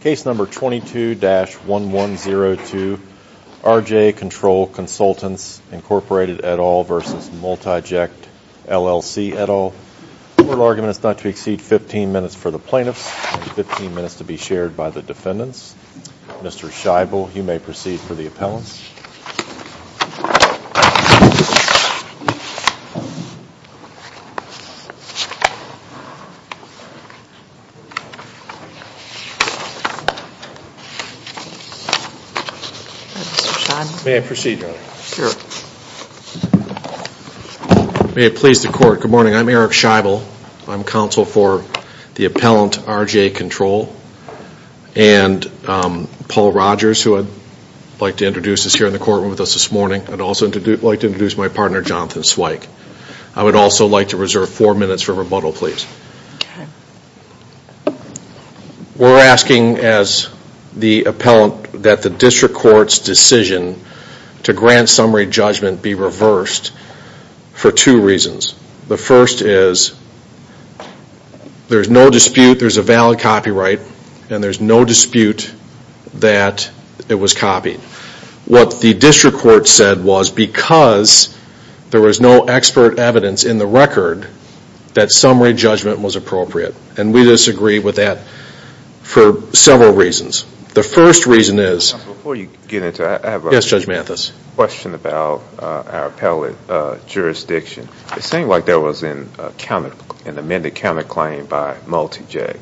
Case number 22-1102, R.J. Control Consultants, Inc. et al. v. Multiject, LLC et al. The oral argument is not to exceed 15 minutes for the plaintiffs and 15 minutes to be shared by the defendants. Mr. Scheibel, you may proceed for the appellants. Good morning. I'm Eric Scheibel. I'm counsel for the appellant, R.J. Control. And Paul Rogers, who I'd like to introduce is here in the courtroom with us this morning. I'd also like to introduce my partner, Jonathan Zweig. I would also like to reserve four minutes for rebuttal, please. We're asking as the appellant that the district court's decision to grant summary judgment be reversed for two reasons. The first is there's no dispute, there's a valid copyright, and there's no dispute that it was copied. What the district court said was because there was no expert evidence in the record that summary judgment was appropriate. And we disagree with that for several reasons. The first reason is... Before you get into it, I have a question about our appellate jurisdiction. It seemed like there was an amended counterclaim by Multiject.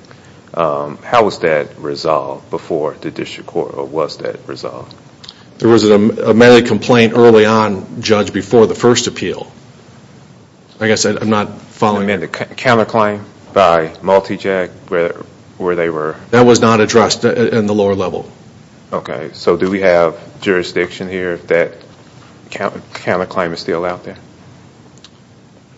How was that resolved before the district court, or was that resolved? There was an amended complaint early on, Judge, before the first appeal. Like I said, I'm not following... Amended counterclaim by Multiject, where they were... That was not addressed in the lower level. Okay, so do we have jurisdiction here that that counterclaim is still out there?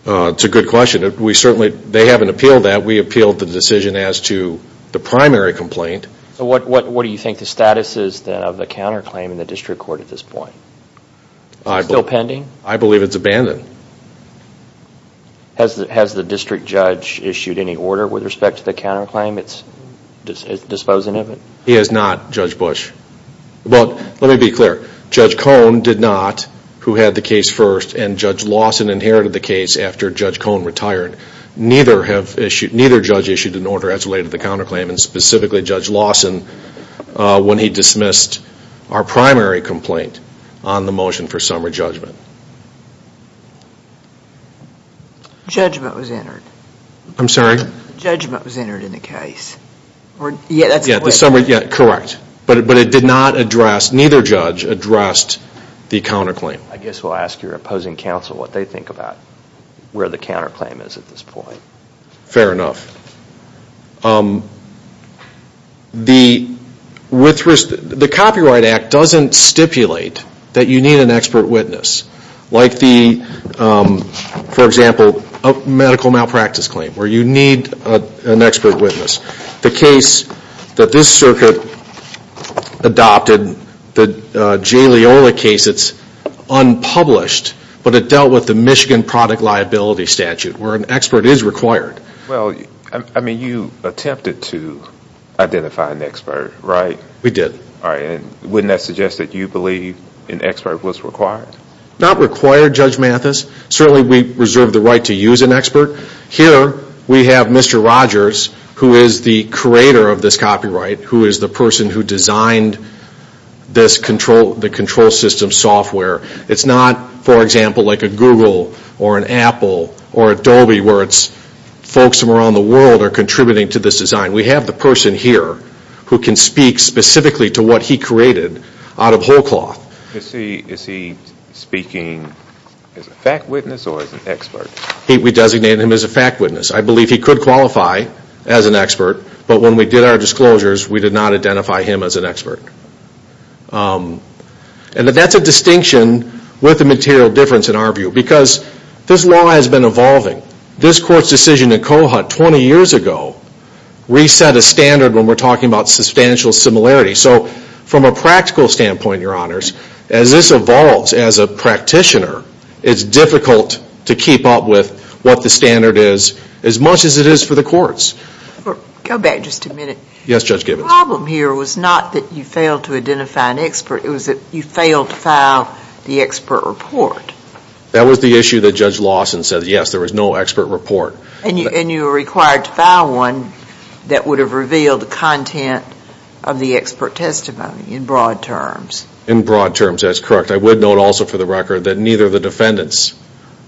That's a good question. We certainly... They haven't appealed that. We appealed the decision as to the primary complaint. So what do you think the status is of the counterclaim in the district court at this point? Is it still pending? I believe it's abandoned. Has the district judge issued any order with respect to the counterclaim? It's disposing of it? He has not, Judge Bush. Well, let me be clear. Judge Cone did not, who had the case first, and Judge Lawson inherited the case after Judge Cone retired. Neither judge issued an order as related to the counterclaim, and specifically Judge Lawson, when he dismissed our primary complaint on the motion for summary judgment. Judgment was entered. I'm sorry? Judgment was entered in the case. Yeah, that's correct. But it did not address, neither judge addressed the counterclaim. I guess we'll ask your opposing counsel what they think about where the counterclaim is at this point. Fair enough. The Copyright Act doesn't stipulate that you need an expert witness. Like the, for example, medical malpractice claim, where you need an expert witness. The case that this circuit adopted, the Jay Leola case, it's unpublished, but it dealt with the Michigan product liability statute, where an expert is required. Well, I mean, you attempted to identify an expert, right? We did. All right, and wouldn't that suggest that you believe an expert was required? Not required, Judge Mathis. Certainly we reserve the right to use an expert. Here we have Mr. Rogers, who is the creator of this copyright, who is the person who designed this control system software. It's not, for example, like a Google or an Apple or Adobe, where it's folks from around the world are contributing to this design. We have the person here who can speak specifically to what he created out of whole cloth. We designated him as a fact witness. I believe he could qualify as an expert, but when we did our disclosures, we did not identify him as an expert. And that's a distinction with a material difference in our view, because this law has been evolving. This court's decision in Cohut 20 years ago reset a standard when we're talking about substantial similarity. So from a practical standpoint, Your Honors, as this evolves as a practitioner, it's difficult to keep up with what the standard is as much as it is for the courts. Go back just a minute. Yes, Judge Gibbons. The problem here was not that you failed to identify an expert. It was that you failed to file the expert report. That was the issue that Judge Lawson said, yes, there was no expert report. And you were required to file one that would have revealed the content of the expert testimony in broad terms. In broad terms, that's correct. I would note also for the record that neither of the defendants'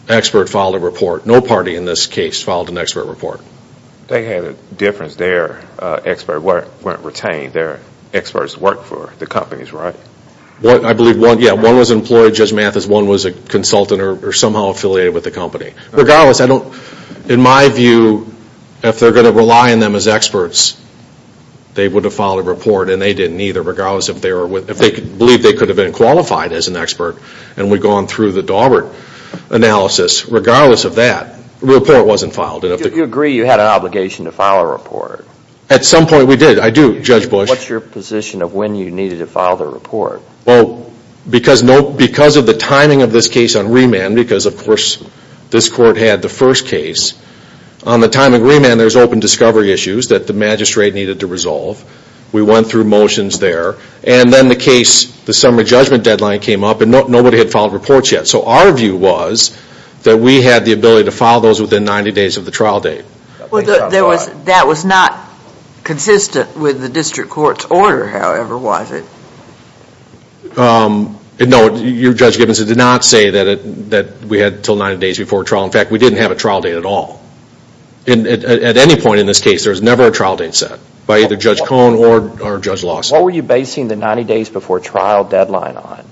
expert filed a report. No party in this case filed an expert report. They had a difference. Their experts weren't retained. Their experts worked for the companies, right? I believe one was employed. Judge Mathis, one was a consultant or somehow affiliated with the company. Regardless, in my view, if they're going to rely on them as experts, they would have filed a report, and they didn't either, regardless if they believed they could have been qualified as an expert. And we've gone through the Dawbert analysis. Regardless of that, the report wasn't filed. Do you agree you had an obligation to file a report? At some point we did. I do, Judge Bush. What's your position of when you needed to file the report? Well, because of the timing of this case on remand, because, of course, this court had the first case, on the time of remand there's open discovery issues that the magistrate needed to resolve. We went through motions there. And then the case, the summary judgment deadline came up, and nobody had filed reports yet. So our view was that we had the ability to file those within 90 days of the trial date. That was not consistent with the district court's order, however, was it? No, Judge Gibbons, it did not say that we had until 90 days before trial. In fact, we didn't have a trial date at all. At any point in this case, there was never a trial date set by either Judge Cohn or Judge Lawson. What were you basing the 90 days before trial deadline on?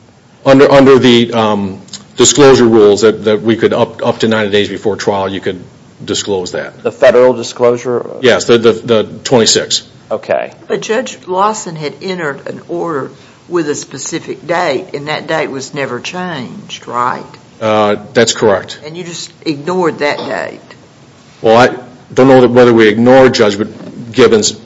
Under the disclosure rules that we could up to 90 days before trial, you could disclose that. The federal disclosure? Yes, the 26th. Okay. But Judge Lawson had entered an order with a specific date, and that date was never changed, right? That's correct. And you just ignored that date? Well, I don't know whether we ignored Judge Gibbons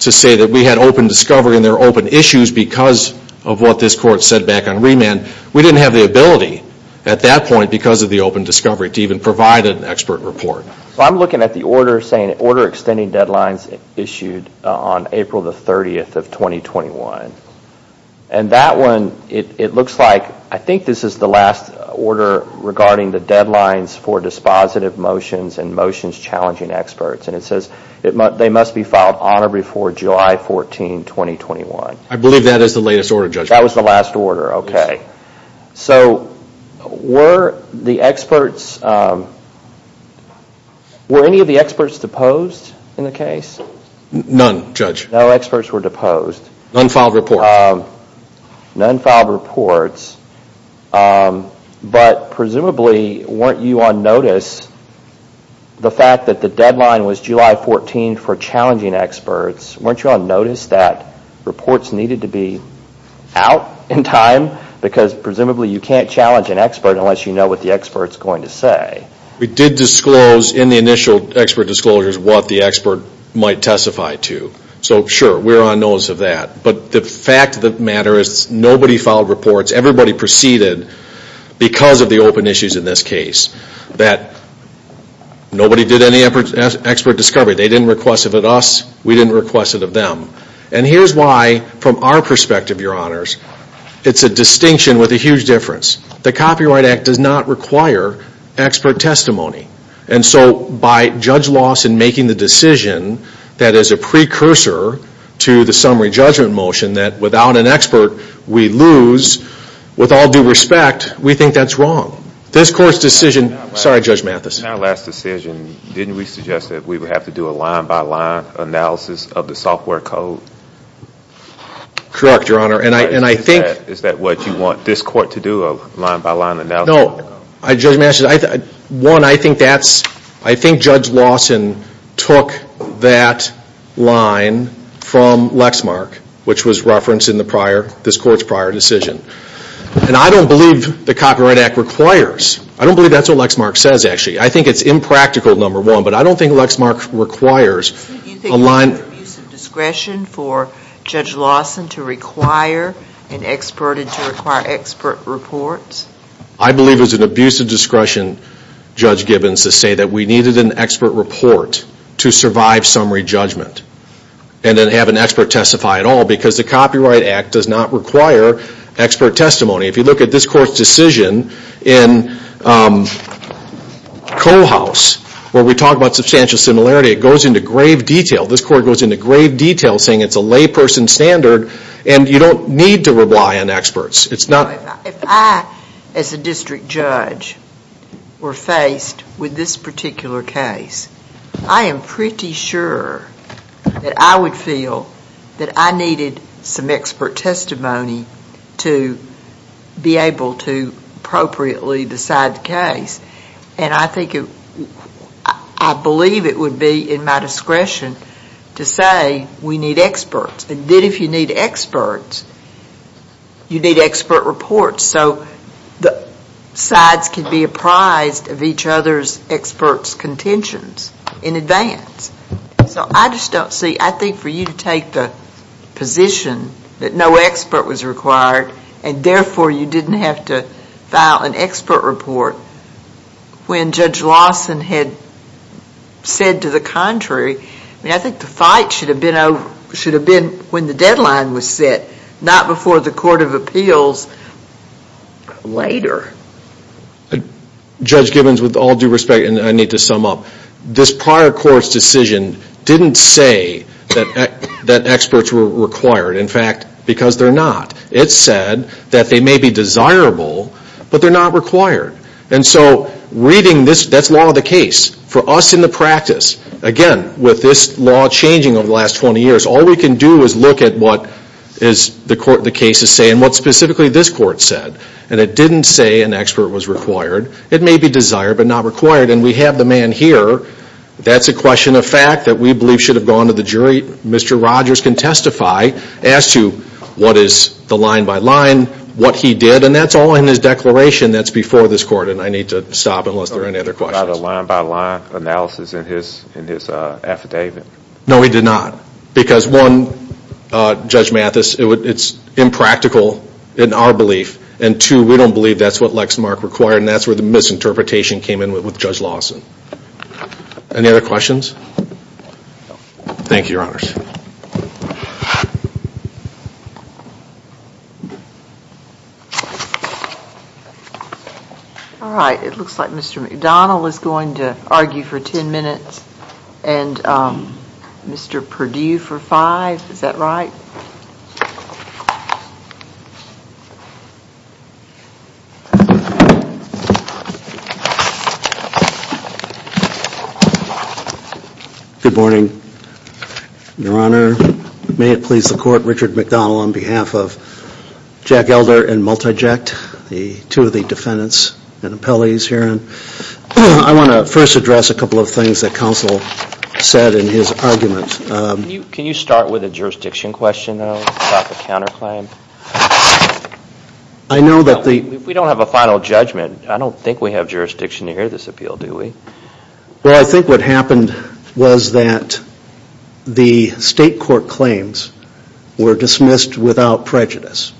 to say that we had open discovery and there were open issues because of what this court said back on remand. We didn't have the ability at that point because of the open discovery to even provide an expert report. I'm looking at the order saying order extending deadlines issued on April 30, 2021. And that one, it looks like, I think this is the last order regarding the deadlines for dispositive motions and motions challenging experts. And it says they must be filed on or before July 14, 2021. I believe that is the latest order, Judge. That was the last order, okay. So were the experts, were any of the experts deposed in the case? None, Judge. No experts were deposed? None filed reports. None filed reports. But presumably, weren't you on notice, the fact that the deadline was July 14 for challenging experts, weren't you on notice that reports needed to be out in time? Because presumably you can't challenge an expert unless you know what the expert is going to say. We did disclose in the initial expert disclosures what the expert might testify to. So sure, we're on notice of that. But the fact of the matter is nobody filed reports. Everybody proceeded because of the open issues in this case. That nobody did any expert discovery. They didn't request it of us. We didn't request it of them. And here's why, from our perspective, Your Honors, it's a distinction with a huge difference. The Copyright Act does not require expert testimony. And so by Judge Lawson making the decision that is a precursor to the summary judgment motion, that without an expert we lose, with all due respect, we think that's wrong. This Court's decision, sorry Judge Mathis. In our last decision, didn't we suggest that we would have to do a line-by-line analysis of the software code? Correct, Your Honor. And I think Is that what you want this Court to do, a line-by-line analysis of the code? No, Judge Mathis. One, I think Judge Lawson took that line from Lexmark, which was referenced in this Court's prior decision. And I don't believe the Copyright Act requires. I don't believe that's what Lexmark says, actually. I think it's impractical, number one, but I don't think Lexmark requires a line Was there an abuse of discretion for Judge Lawson to require an expert and to require expert reports? I believe it was an abuse of discretion, Judge Gibbons, to say that we needed an expert report to survive summary judgment and then have an expert testify at all because the Copyright Act does not require expert testimony. If you look at this Court's decision in Cole House, where we talk about substantial similarity, it goes into grave detail. This Court goes into grave detail saying it's a layperson standard and you don't need to rely on experts. If I, as a district judge, were faced with this particular case, I am pretty sure that I would feel that I needed some expert testimony to be able to appropriately decide the case. And I believe it would be in my discretion to say we need experts. And then if you need experts, you need expert reports. So the sides can be apprised of each other's experts' contentions in advance. So I just don't see, I think for you to take the position that no expert was required and therefore you didn't have to file an expert report when Judge Lawson had said to the contrary, I think the fight should have been when the deadline was set, not before the Court of Appeals later. Judge Gibbons, with all due respect, and I need to sum up, this prior Court's decision didn't say that experts were required. In fact, because they're not. It said that they may be desirable, but they're not required. And so reading this, that's law of the case. For us in the practice, again, with this law changing over the last 20 years, all we can do is look at what the cases say and what specifically this Court said. And it didn't say an expert was required. It may be desired but not required. And we have the man here. That's a question of fact that we believe should have gone to the jury. Mr. Rogers can testify as to what is the line-by-line, what he did, and that's all in his declaration that's before this Court, and I need to stop unless there are any other questions. Did he provide a line-by-line analysis in his affidavit? No, he did not. Because one, Judge Mathis, it's impractical in our belief, and two, we don't believe that's what Lexmark required, and that's where the misinterpretation came in with Judge Lawson. Any other questions? Thank you, Your Honors. All right. It looks like Mr. McDonnell is going to argue for ten minutes and Mr. Perdue for five. Is that right? Good morning, Your Honor. May it please the Court, Richard McDonnell on behalf of Jack Elder and Multiject, the two of the defendants and appellees here. I want to first address a couple of things that counsel said in his argument. Can you start with a jurisdiction question about the counterclaim? If we don't have a final judgment, I don't think we have jurisdiction to hear this appeal, do we? Well, I think what happened was that the state court claims were dismissed without prejudice.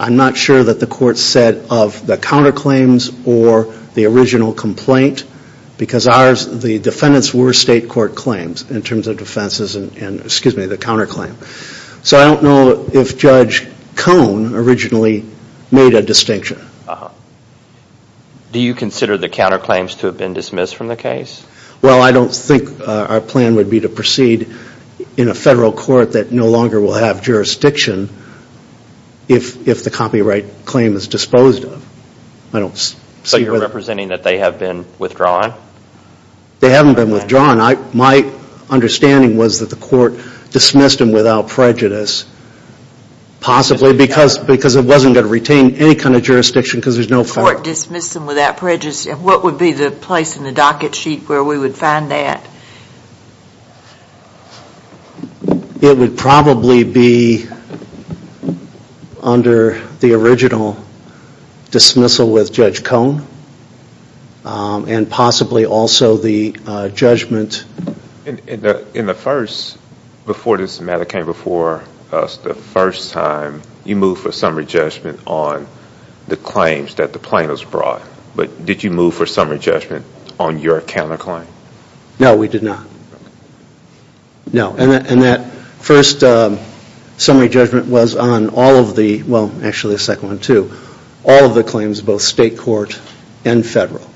I'm not sure that the court said of the counterclaims or the original complaint because the defendants were state court claims in terms of defenses and, excuse me, the counterclaim. So I don't know if Judge Cone originally made a distinction. Do you consider the counterclaims to have been dismissed from the case? Well, I don't think our plan would be to proceed in a federal court that no longer will have jurisdiction if the copyright claim is disposed of. So you're representing that they have been withdrawn? They haven't been withdrawn. My understanding was that the court dismissed them without prejudice, possibly because it wasn't going to retain any kind of jurisdiction because there's no fact. The court dismissed them without prejudice. What would be the place in the docket sheet where we would find that? It would probably be under the original dismissal with Judge Cone and possibly also the judgment. In the first, before this matter came before us, the first time you moved for summary judgment on the claims that the plaintiffs brought. But did you move for summary judgment on your counterclaim? No, we did not. No, and that first summary judgment was on all of the, well, actually the second one too, all of the claims, both state court and federal.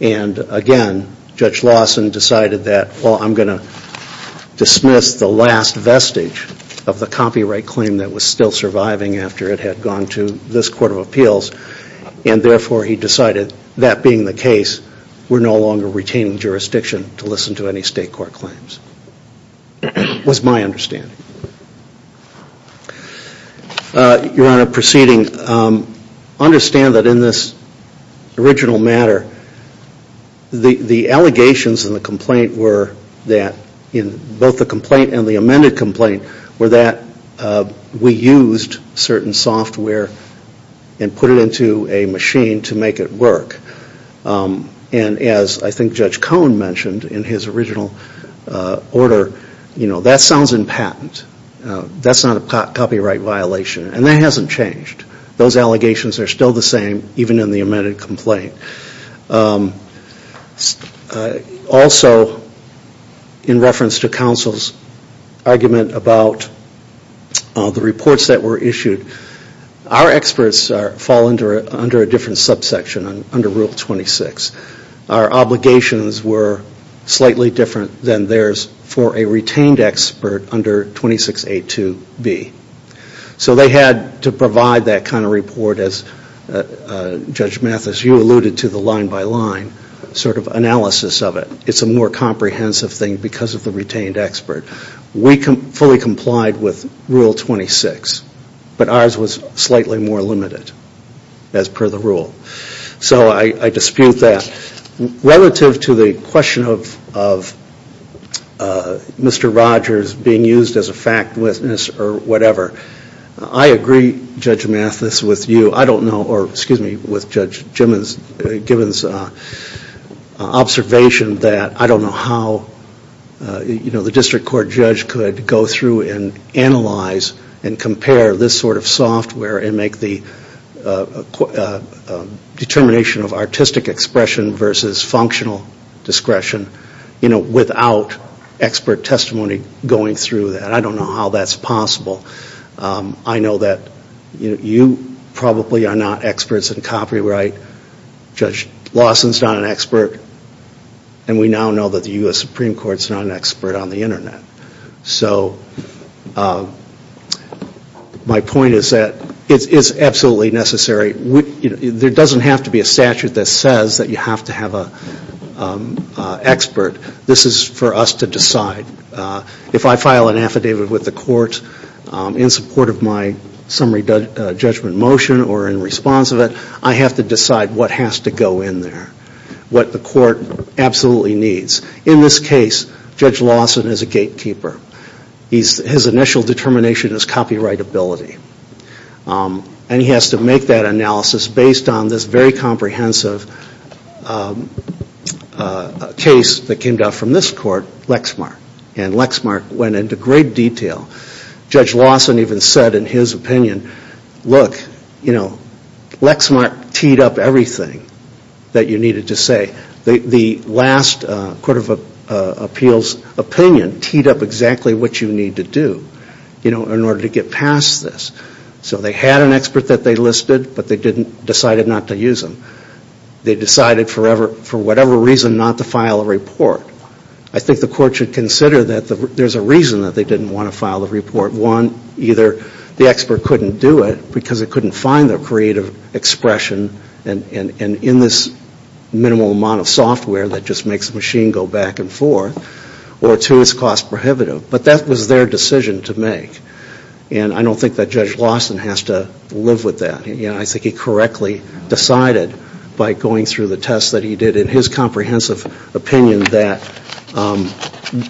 And again, Judge Lawson decided that, well, I'm going to dismiss the last vestige of the copyright claim that was still surviving after it had gone to this court of appeals, and therefore he decided that being the case, we're no longer retaining jurisdiction to listen to any state court claims was my understanding. Your Honor, proceeding, I understand that in this original matter, the allegations in the complaint were that, in both the complaint and the amended complaint, were that we used certain software and put it into a machine to make it work. And as I think Judge Cone mentioned in his original order, you know, that sounds impotent. That's not a copyright violation, and that hasn't changed. Those allegations are still the same, even in the amended complaint. Also, in reference to counsel's argument about the reports that were issued, our experts fall under a different subsection, under Rule 26. Our obligations were slightly different than theirs for a retained expert under 26A2B. So they had to provide that kind of report, as Judge Mathis, you alluded to, the line-by-line sort of analysis of it. It's a more comprehensive thing because of the retained expert. We fully complied with Rule 26, but ours was slightly more limited as per the rule. So I dispute that. Relative to the question of Mr. Rogers being used as a fact witness or whatever, I agree, Judge Mathis, with you. I don't know, or excuse me, with Judge Gibbons' observation that I don't know how the district court judge could go through and analyze and compare this sort of software and make the determination of artistic expression versus functional discretion without expert testimony going through that. I don't know how that's possible. I know that you probably are not experts in copyright. Judge Lawson is not an expert. And we now know that the U.S. Supreme Court is not an expert on the Internet. So my point is that it's absolutely necessary. There doesn't have to be a statute that says that you have to have an expert. This is for us to decide. If I file an affidavit with the court in support of my summary judgment motion or in response of it, I have to decide what has to go in there, what the court absolutely needs. In this case, Judge Lawson is a gatekeeper. His initial determination is copyrightability. And he has to make that analysis based on this very comprehensive case that came down from this court, Lexmark. And Lexmark went into great detail. Judge Lawson even said in his opinion, look, Lexmark teed up everything that you needed to say. In fact, the last Court of Appeals opinion teed up exactly what you need to do in order to get past this. So they had an expert that they listed, but they decided not to use him. They decided for whatever reason not to file a report. I think the court should consider that there's a reason that they didn't want to file the report. One, either the expert couldn't do it because it couldn't find their creative expression in this minimal amount of software that just makes the machine go back and forth, or two, it's cost prohibitive. But that was their decision to make. And I don't think that Judge Lawson has to live with that. I think he correctly decided by going through the tests that he did in his comprehensive opinion that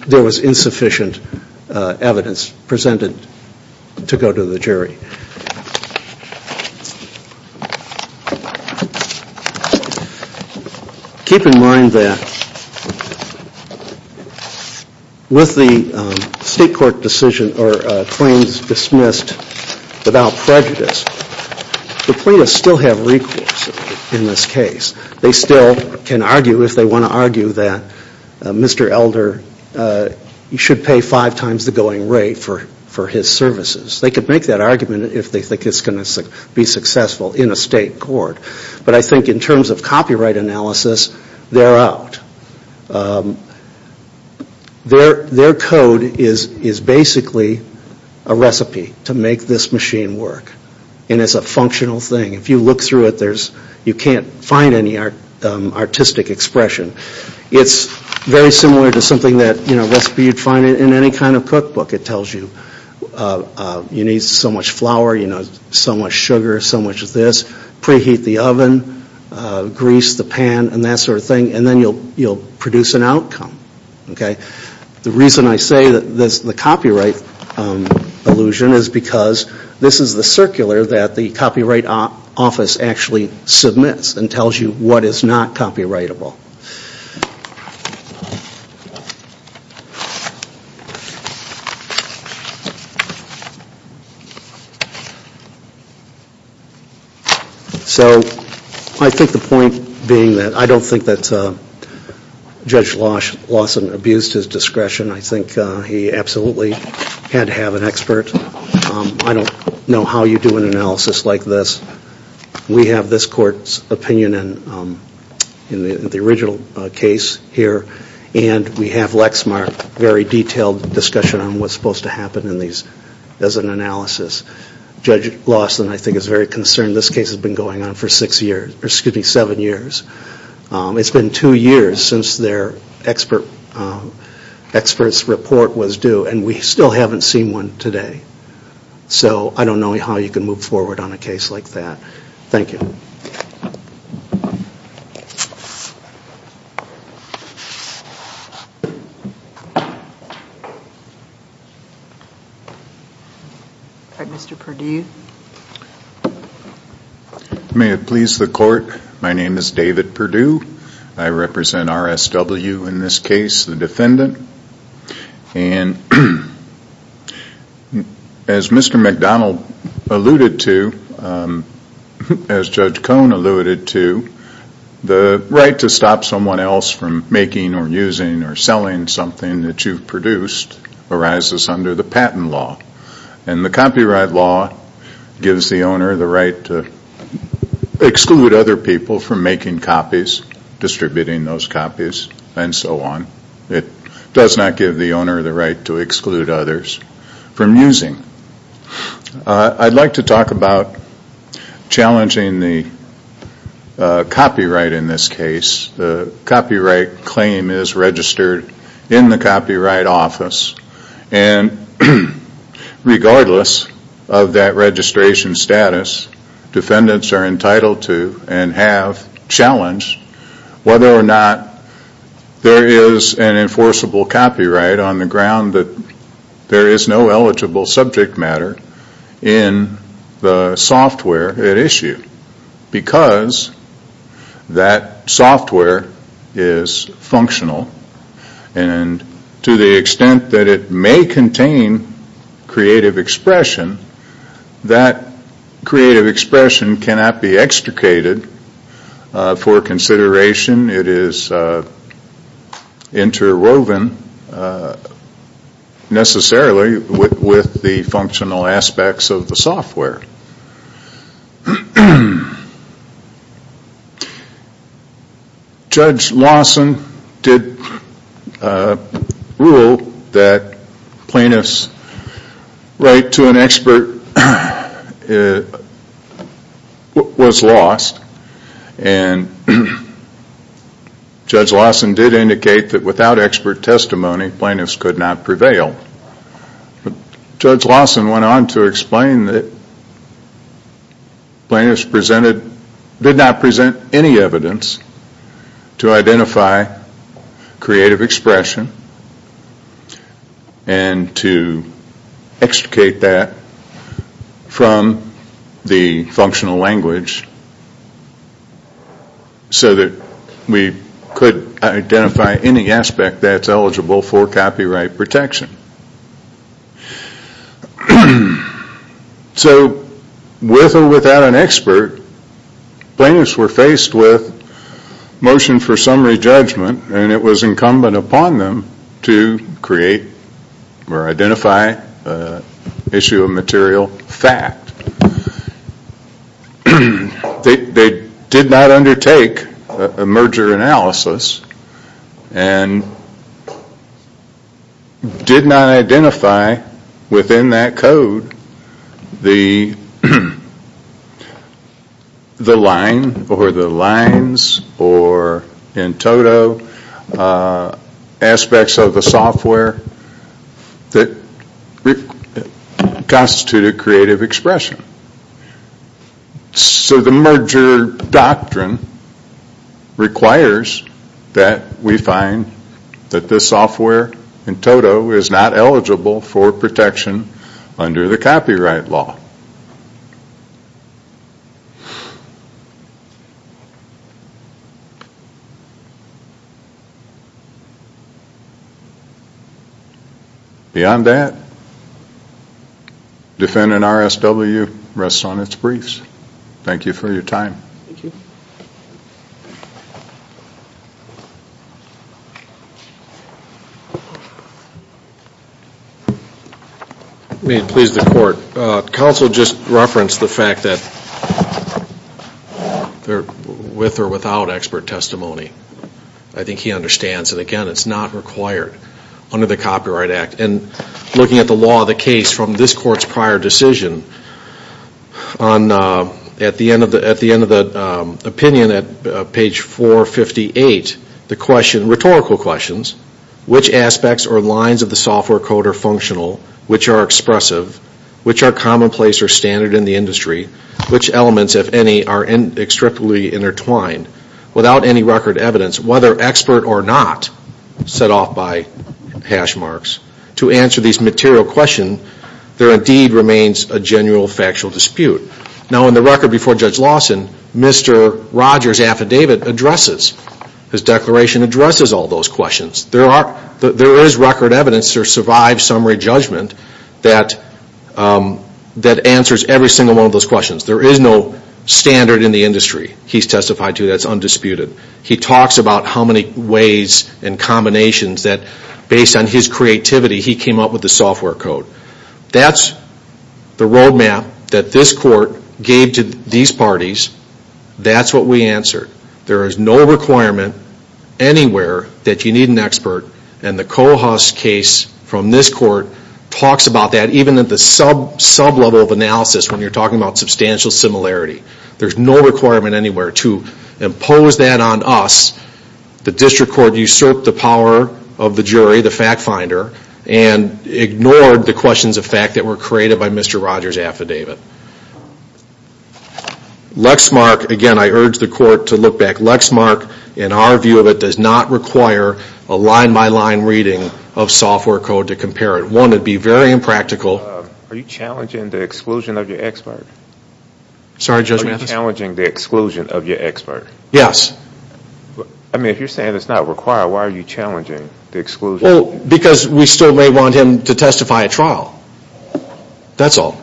there was insufficient evidence presented to go to the jury. Keep in mind that with the state court decision or claims dismissed without prejudice, the plaintiffs still have recourse in this case. They still can argue if they want to argue that Mr. Elder should pay five times the going rate for his services. They could make that argument if they think it's going to be successful in a state court. But I think in terms of copyright analysis, they're out. Their code is basically a recipe to make this machine work. And it's a functional thing. If you look through it, you can't find any artistic expression. It's very similar to something that, you know, a recipe you'd find in any kind of cookbook. It tells you, you need so much flour, so much sugar, so much of this. Preheat the oven, grease the pan, and that sort of thing. And then you'll produce an outcome. The reason I say that this is the copyright illusion is because this is the circular that the Copyright Office actually submits and tells you what is not copyrightable. So I think the point being that I don't think that Judge Lawson abused his discretion. I think he absolutely had to have an expert. I don't know how you do an analysis like this. We have this court's opinion in the original case here, and we have Lexmark's very detailed discussion on what's supposed to happen as an analysis. Judge Lawson, I think, is very concerned. This case has been going on for six years, excuse me, seven years. It's been two years since their expert's report was due, and we still haven't seen one today. So I don't know how you can move forward on a case like that. Thank you. All right, Mr. Perdue. May it please the Court, my name is David Perdue. I represent RSW in this case, the defendant. And as Mr. McDonald alluded to, as Judge Cohn alluded to, the right to stop someone else from making or using or selling something that you've produced arises under the Patent Law. And the Copyright Law gives the owner the right to exclude other people from making copies, distributing those copies, and so on. It does not give the owner the right to exclude others from using. I'd like to talk about challenging the copyright in this case. The copyright claim is registered in the Copyright Office, and regardless of that registration status, defendants are entitled to and have challenged whether or not there is an enforceable copyright on the ground that there is no eligible subject matter in the software at issue. Because that software is functional, and to the extent that it may contain creative expression, that creative expression cannot be extricated for consideration. It is interwoven necessarily with the functional aspects of the software. Judge Lawson did rule that plaintiffs' right to an expert was lost, and Judge Lawson did indicate that without expert testimony, plaintiffs could not prevail. Judge Lawson went on to explain that plaintiffs did not present any evidence to identify creative expression, and to extricate that from the functional language so that we could identify any aspect that's eligible for copyright protection. So, with or without an expert, plaintiffs were faced with motion for summary judgment, and it was incumbent upon them to create or identify an issue of material fact. They did not undertake a merger analysis, and did not undertake a merger analysis, and did not identify within that code the line or the lines or in toto aspects of the software that constituted creative expression. So the merger doctrine requires that we find that the software in toto is not eligible for copyright protection. The software in to is not eligible for protection under the copyright law. Beyond that, defending RSW rests on its briefs. Thank you for your time. May it please the court. Counsel just referenced the fact that with or without expert testimony. I think he understands that, again, it's not required under the Copyright Act. And looking at the law of the case from this court's prior decision, at the end of the opinion at page 458, the question, rhetorical questions, which aspects or lines of the software code are functional, which are expressive, which are commonplace or standard in the industry, which elements, if any, are inextricably intertwined, without any record evidence, whether expert or not, set off by hash marks. To answer these material questions, there indeed remains a genuine factual dispute. Now, in the record before Judge Lawson, Mr. Rogers' affidavit addresses, his declaration addresses all those questions. There is record evidence, there's survived summary judgment that answers every single one of those questions. There is no standard in the industry, he's testified to, that's undisputed. He talks about how many ways and combinations that, based on his creativity, he came up with the software code. That's the roadmap that this court gave to these parties. That's what we answered. There is no requirement anywhere that you need an expert. And the Cohus case from this court talks about that, even at the sub-level of analysis when you're talking about substantial similarity. There's no requirement anywhere to impose that on us. The district court usurped the power of the jury, the fact finder, and ignored the questions of fact that were created by Mr. Rogers' affidavit. Lexmark, again, I urge the court to look back. Lexmark, in our view of it, does not require a line-by-line reading of software code to compare it. One, it would be very impractical. Are you challenging the exclusion of your expert? Yes. Because we still may want him to testify at trial. That's all.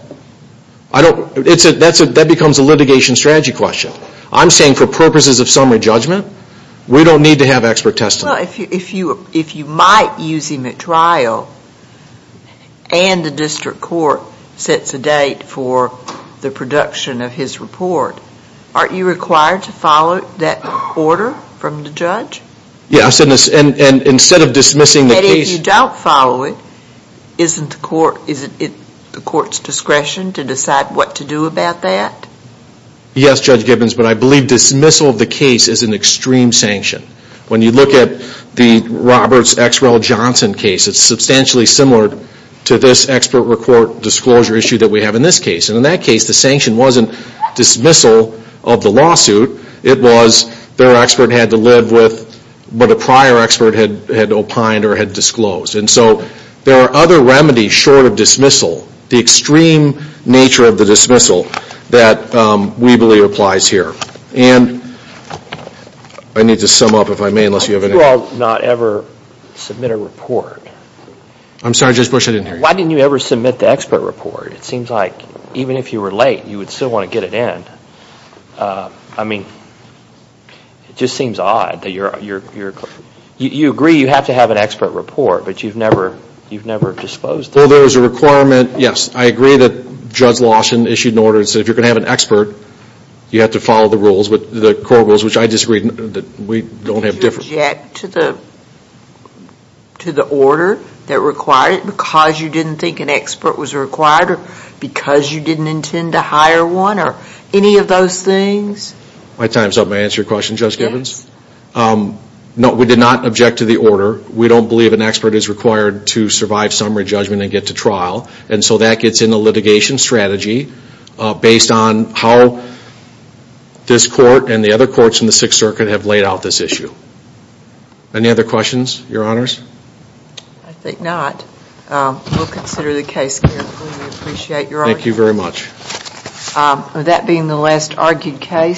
That becomes a litigation strategy question. I'm saying for purposes of summary judgment, we don't need to have expert testimony. Well, if you might use him at trial, and the district court sets a date for the production of his report, aren't you required to follow that order from the judge? Yes. And instead of dismissing the case... And if you don't follow it, isn't it the court's discretion to decide what to do about that? Yes, Judge Gibbons, but I believe dismissal of the case is an extreme sanction. When you look at the Roberts-Exrell-Johnson case, it's substantially similar to this expert report disclosure issue that we have in this case. And in that case, the sanction wasn't dismissal of the lawsuit. It was their expert had to live with what a prior expert had opined or had disclosed. And so there are other remedies short of dismissal, the extreme nature of the dismissal that we believe applies here. And I need to sum up, if I may, unless you have anything... Why did you all not ever submit a report? I'm sorry, Judge Bush, I didn't hear you. Why didn't you ever submit the expert report? It seems like even if you were late, you would still want to get it in. I mean, it just seems odd that you're... You agree you have to have an expert report, but you've never disclosed it. Well, there is a requirement. Yes, I agree that Judge Lawson issued an order that said if you're going to have an expert, you have to follow the rules, the core rules, which I disagree that we don't have different... Did you object to the order that required it because you didn't think an expert was required or because you didn't intend to hire one or any of those things? My time's up. May I answer your question, Judge Gibbons? Yes. No, we did not object to the order. We don't believe an expert is required to survive summary judgment and get to trial. And so that gets in the litigation strategy based on how this court and the other courts in the Sixth Circuit have laid out this issue. Any other questions, Your Honors? I think not. We'll consider the case carefully. We appreciate your argument. Thank you very much.